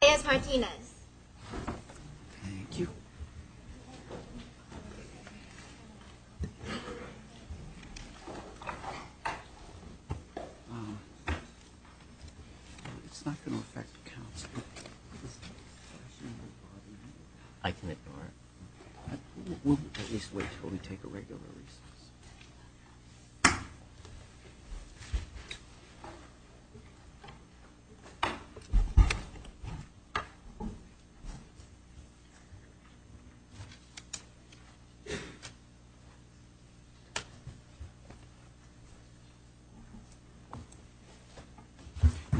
Thank you. It's not going to affect council. I can ignore it. We'll at least wait until we take a regular recess. Good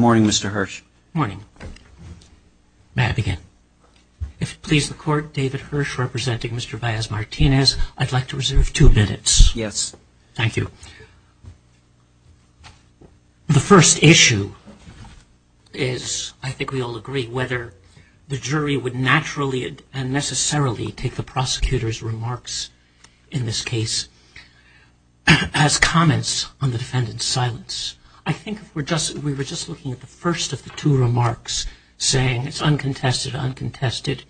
morning, Mr. Hirsch. Good morning. May I begin? If it pleases the court, David Hirsch, representing Mr. Baez-Martinez, I'd like to reserve two minutes. Yes. Thank you. The first issue is, I think we all agree, whether the jury would naturally and necessarily take the prosecutor's remarks in this case as comments on the defendant's silence. I think if we were just looking at the first of the two remarks, saying it's uncontested, uncontested,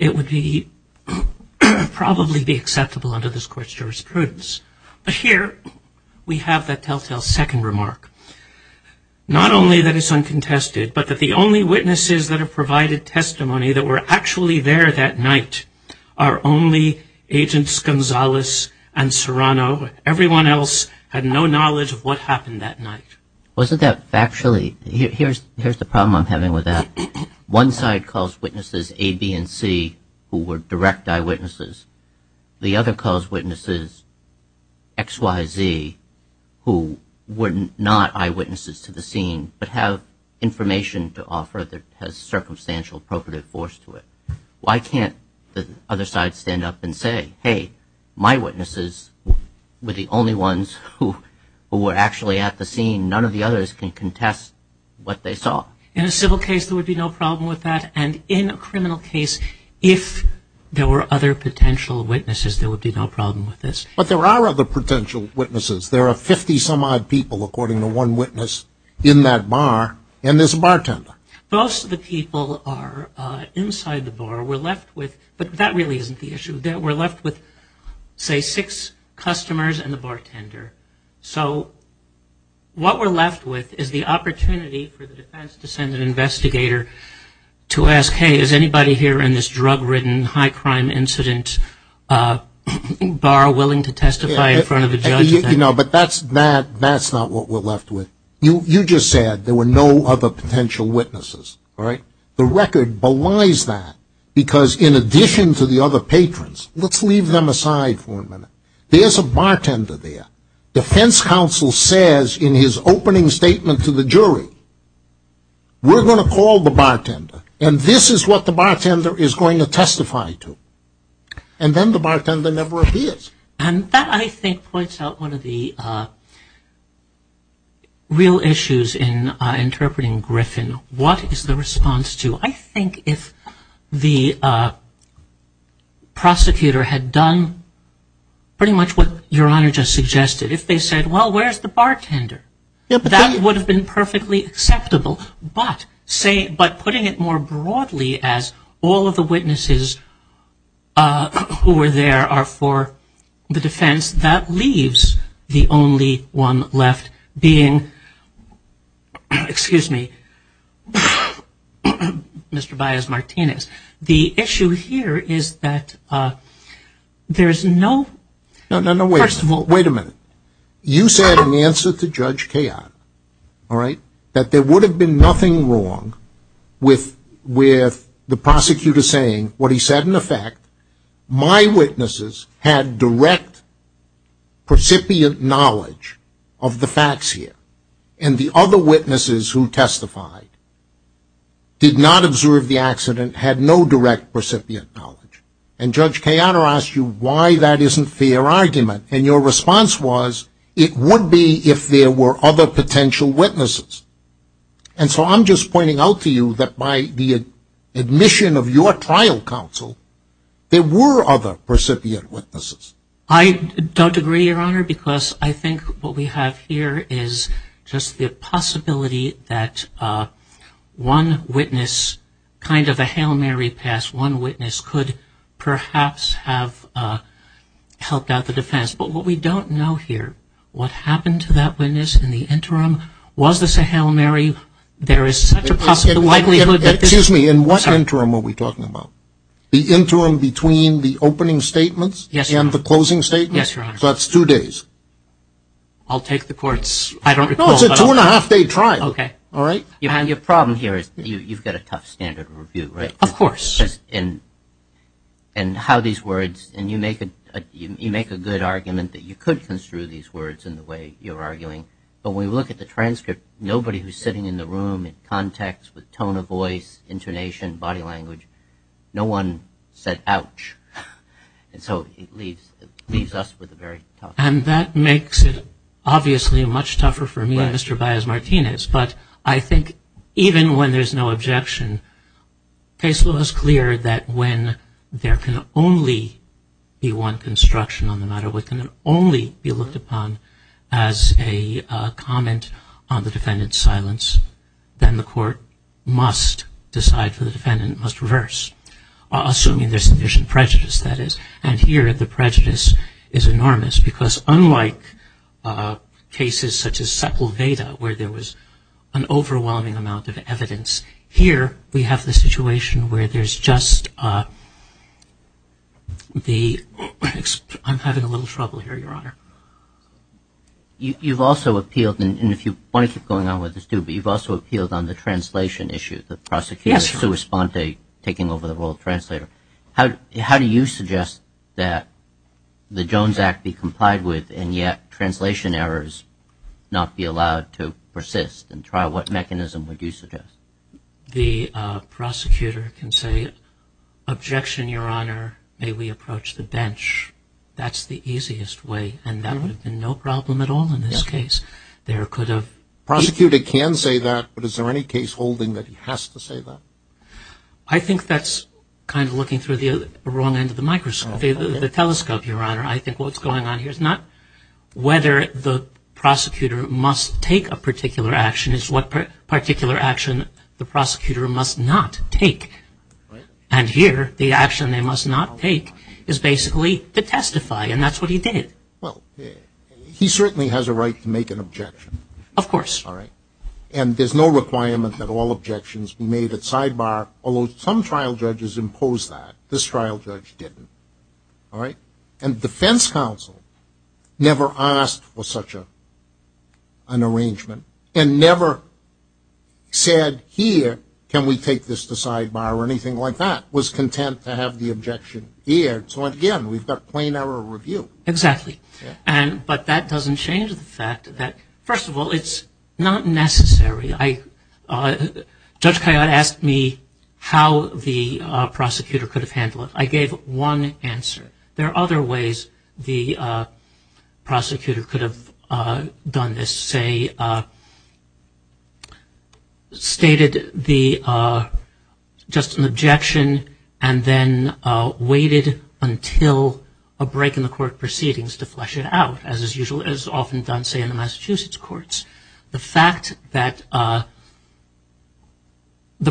it would probably be acceptable under this court's jurisprudence. But here we have that telltale second remark, not only that it's uncontested, but that the only witnesses that have provided testimony that were actually there that night are only Agents Gonzalez and Serrano. Everyone else had no knowledge of what happened that night. Wasn't that factually – here's the problem I'm having with that. One side calls witnesses A, B, and C who were direct eyewitnesses. The other calls witnesses X, Y, Z who were not eyewitnesses to the scene but have information to offer that has circumstantial appropriate force to it. Why can't the other side stand up and say, hey, my witnesses were the only ones who were actually at the scene. None of the others can contest what they saw. In a civil case, there would be no problem with that. And in a criminal case, if there were other potential witnesses, there would be no problem with this. But there are other potential witnesses. There are 50-some-odd people, according to one witness, in that bar, and there's a bartender. Most of the people are inside the bar. We're left with – but that really isn't the issue. We're left with, say, six customers and the bartender. So what we're left with is the opportunity for the defense to send an investigator to ask, hey, is anybody here in this drug-ridden, high-crime incident bar willing to testify in front of a judge? But that's not what we're left with. You just said there were no other potential witnesses. The record belies that because in addition to the other patrons, let's leave them aside for a minute. There's a bartender there. Defense counsel says in his opening statement to the jury, we're going to call the bartender, and this is what the bartender is going to testify to. And then the bartender never appears. And that, I think, points out one of the real issues in interpreting Griffin. What is the response to? So I think if the prosecutor had done pretty much what Your Honor just suggested, if they said, well, where's the bartender, that would have been perfectly acceptable. But putting it more broadly as all of the witnesses who were there are for the defense, that leaves the only one left being, excuse me, Mr. Baez Martinez. The issue here is that there's no ‑‑ No, no, no, wait a minute. You said in the answer to Judge Kayott, all right, that there would have been nothing wrong with the prosecutor saying what he said in effect, my witnesses had direct recipient knowledge of the facts here. And the other witnesses who testified did not observe the accident, had no direct recipient knowledge. And Judge Kayott asked you why that isn't their argument. And your response was, it would be if there were other potential witnesses. And so I'm just pointing out to you that by the admission of your trial counsel, there were other recipient witnesses. I don't agree, Your Honor, because I think what we have here is just the possibility that one witness, kind of a hail Mary pass, one witness could perhaps have helped out the defense. But what we don't know here, what happened to that witness in the interim? Was this a hail Mary? There is such a possibility. Excuse me, in what interim are we talking about? The interim between the opening statements? Yes, Your Honor. And the closing statements? Yes, Your Honor. So that's two days. I'll take the court's, I don't recall. No, it's a two and a half day trial. Okay. All right? Your problem here is you've got a tough standard of review, right? Of course. And how these words, and you make a good argument that you could construe these words in the way you're arguing. But when you look at the transcript, nobody who's sitting in the room in context with tone of voice, intonation, body language, no one said, ouch. And so it leaves us with a very tough. And that makes it obviously much tougher for me and Mr. Baez Martinez. But I think even when there's no objection, case law is clear that when there can only be one construction on the matter, what can only be looked upon as a comment on the defendant's silence, then the court must decide for the defendant, must reverse, assuming there's sufficient prejudice, that is. And here the prejudice is enormous because unlike cases such as Sepulveda, where there was an overwhelming amount of evidence, here we have the situation where there's just the, I'm having a little trouble here, Your Honor. You've also appealed, and if you want to keep going on with this, do, but you've also appealed on the translation issue. Yes, Your Honor. How do you suggest that the Jones Act be complied with and yet translation errors not be allowed to persist and trial? What mechanism would you suggest? The prosecutor can say, objection, Your Honor, may we approach the bench. That's the easiest way, and that would have been no problem at all in this case. Prosecutor can say that, but is there any case holding that he has to say that? I think that's kind of looking through the wrong end of the microscope, the telescope, Your Honor. I think what's going on here is not whether the prosecutor must take a particular action, it's what particular action the prosecutor must not take. And here the action they must not take is basically to testify, and that's what he did. Well, he certainly has a right to make an objection. Of course. And there's no requirement that all objections be made at sidebar, although some trial judges imposed that. This trial judge didn't. And defense counsel never asked for such an arrangement and never said here can we take this to sidebar or anything like that, was content to have the objection here. So, again, we've got plain error review. Exactly. But that doesn't change the fact that, first of all, it's not necessary. Judge Kayyad asked me how the prosecutor could have handled it. I gave one answer. There are other ways the prosecutor could have done this, say stated just an objection and then waited until a break in the court proceedings to flush it out, as is often done, say, in the Massachusetts courts. The fact that the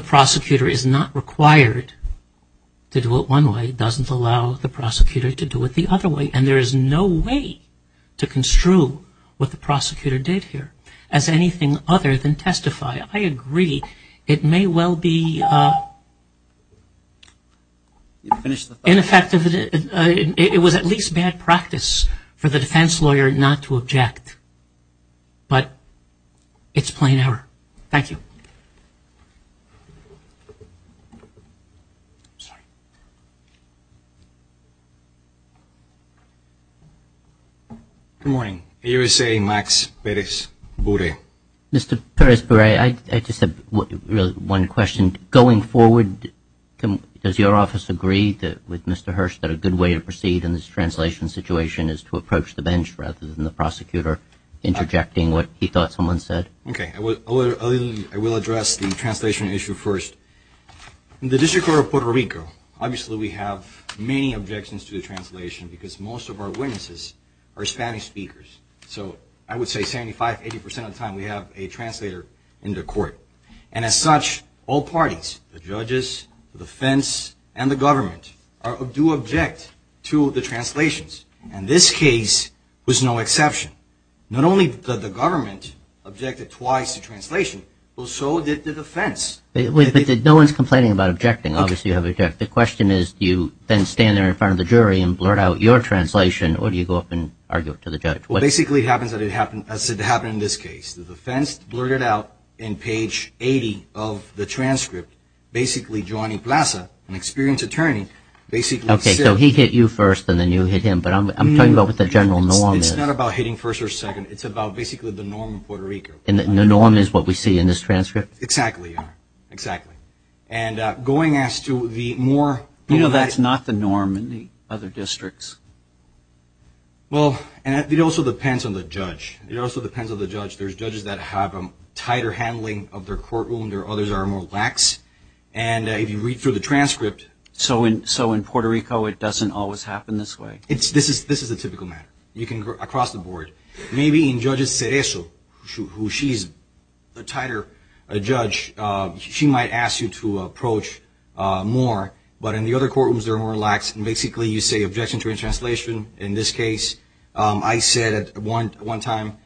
prosecutor is not required to do it one way doesn't allow the prosecutor to do it the other way, and there is no way to construe what the prosecutor did here as anything other than testify. I agree. It may well be ineffective. It was at least bad practice for the defense lawyer not to object. But it's plain error. Thank you. Good morning. USA Max Perez-Bure. Mr. Perez-Bure, I just have really one question. Going forward, does your office agree with Mr. Hirsch that a good way to proceed in this translation situation is to approach the bench rather than the prosecutor interjecting what he thought someone said? Okay. I will address the translation issue first. In the District Court of Puerto Rico, obviously we have many objections to the translation because most of our witnesses are Spanish speakers. So I would say 75%, 80% of the time we have a translator in the court. And as such, all parties, the judges, the defense, and the government, do object to the translations. And this case was no exception. Not only did the government object twice to translation, so did the defense. No one is complaining about objecting. Obviously you have objected. The question is do you then stand there in front of the jury and blurt out your translation or do you go up and argue it to the judge? Well, basically it happens as it happened in this case. The defense blurted out in page 80 of the transcript, basically Johnny Plaza, an experienced attorney, basically said- Okay, so he hit you first and then you hit him. But I'm talking about what the general norm is. It's not about hitting first or second. It's about basically the norm in Puerto Rico. And the norm is what we see in this transcript? Exactly. Exactly. And going as to the more- You know that's not the norm in the other districts. Well, it also depends on the judge. It also depends on the judge. There's judges that have a tighter handling of their courtroom. There are others that are more lax. And if you read through the transcript- So in Puerto Rico it doesn't always happen this way? This is a typical matter. You can go across the board. Maybe in Judge Cerezo, who she's a tighter judge, she might ask you to approach more. But in the other courtrooms they're more lax. And basically you say objection to a translation. In this case, I said at one time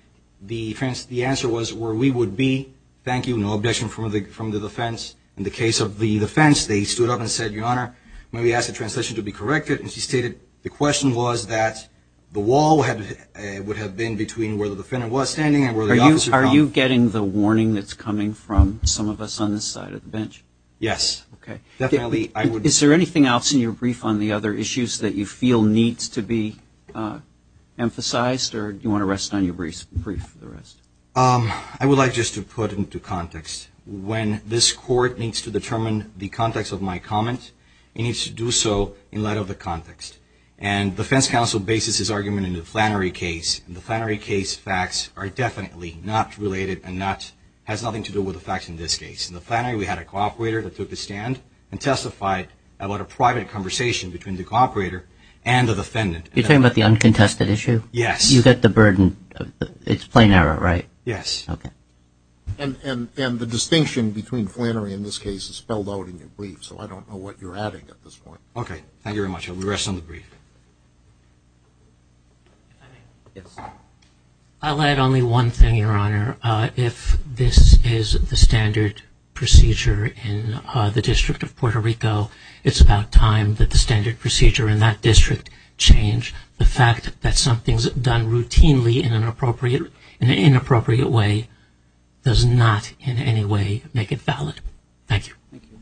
the answer was where we would be. Thank you. No objection from the defense. In the case of the defense, they stood up and said, Your Honor, may we ask the translation to be corrected? And she stated the question was that the wall would have been between where the defendant was standing and where the officer found- Are you getting the warning that's coming from some of us on this side of the bench? Yes. Okay. Definitely I would- Is there anything else in your brief on the other issues that you feel needs to be emphasized? Or do you want to rest on your brief for the rest? I would like just to put into context, when this court needs to determine the context of my comment, it needs to do so in light of the context. And the defense counsel bases his argument in the Flannery case. And the Flannery case facts are definitely not related and has nothing to do with the facts in this case. In the Flannery, we had a cooperator that took a stand and testified about a private conversation between the cooperator and the defendant. You're talking about the uncontested issue? Yes. You get the burden. It's plain error, right? Yes. Okay. And the distinction between Flannery in this case is spelled out in your brief, so I don't know what you're adding at this point. Okay. Thank you very much. I will rest on the brief. Yes. I'll add only one thing, Your Honor. If this is the standard procedure in the District of Puerto Rico, it's about time that the standard procedure in that district change. The fact that something's done routinely in an inappropriate way does not in any way make it valid. Thank you. Thank you.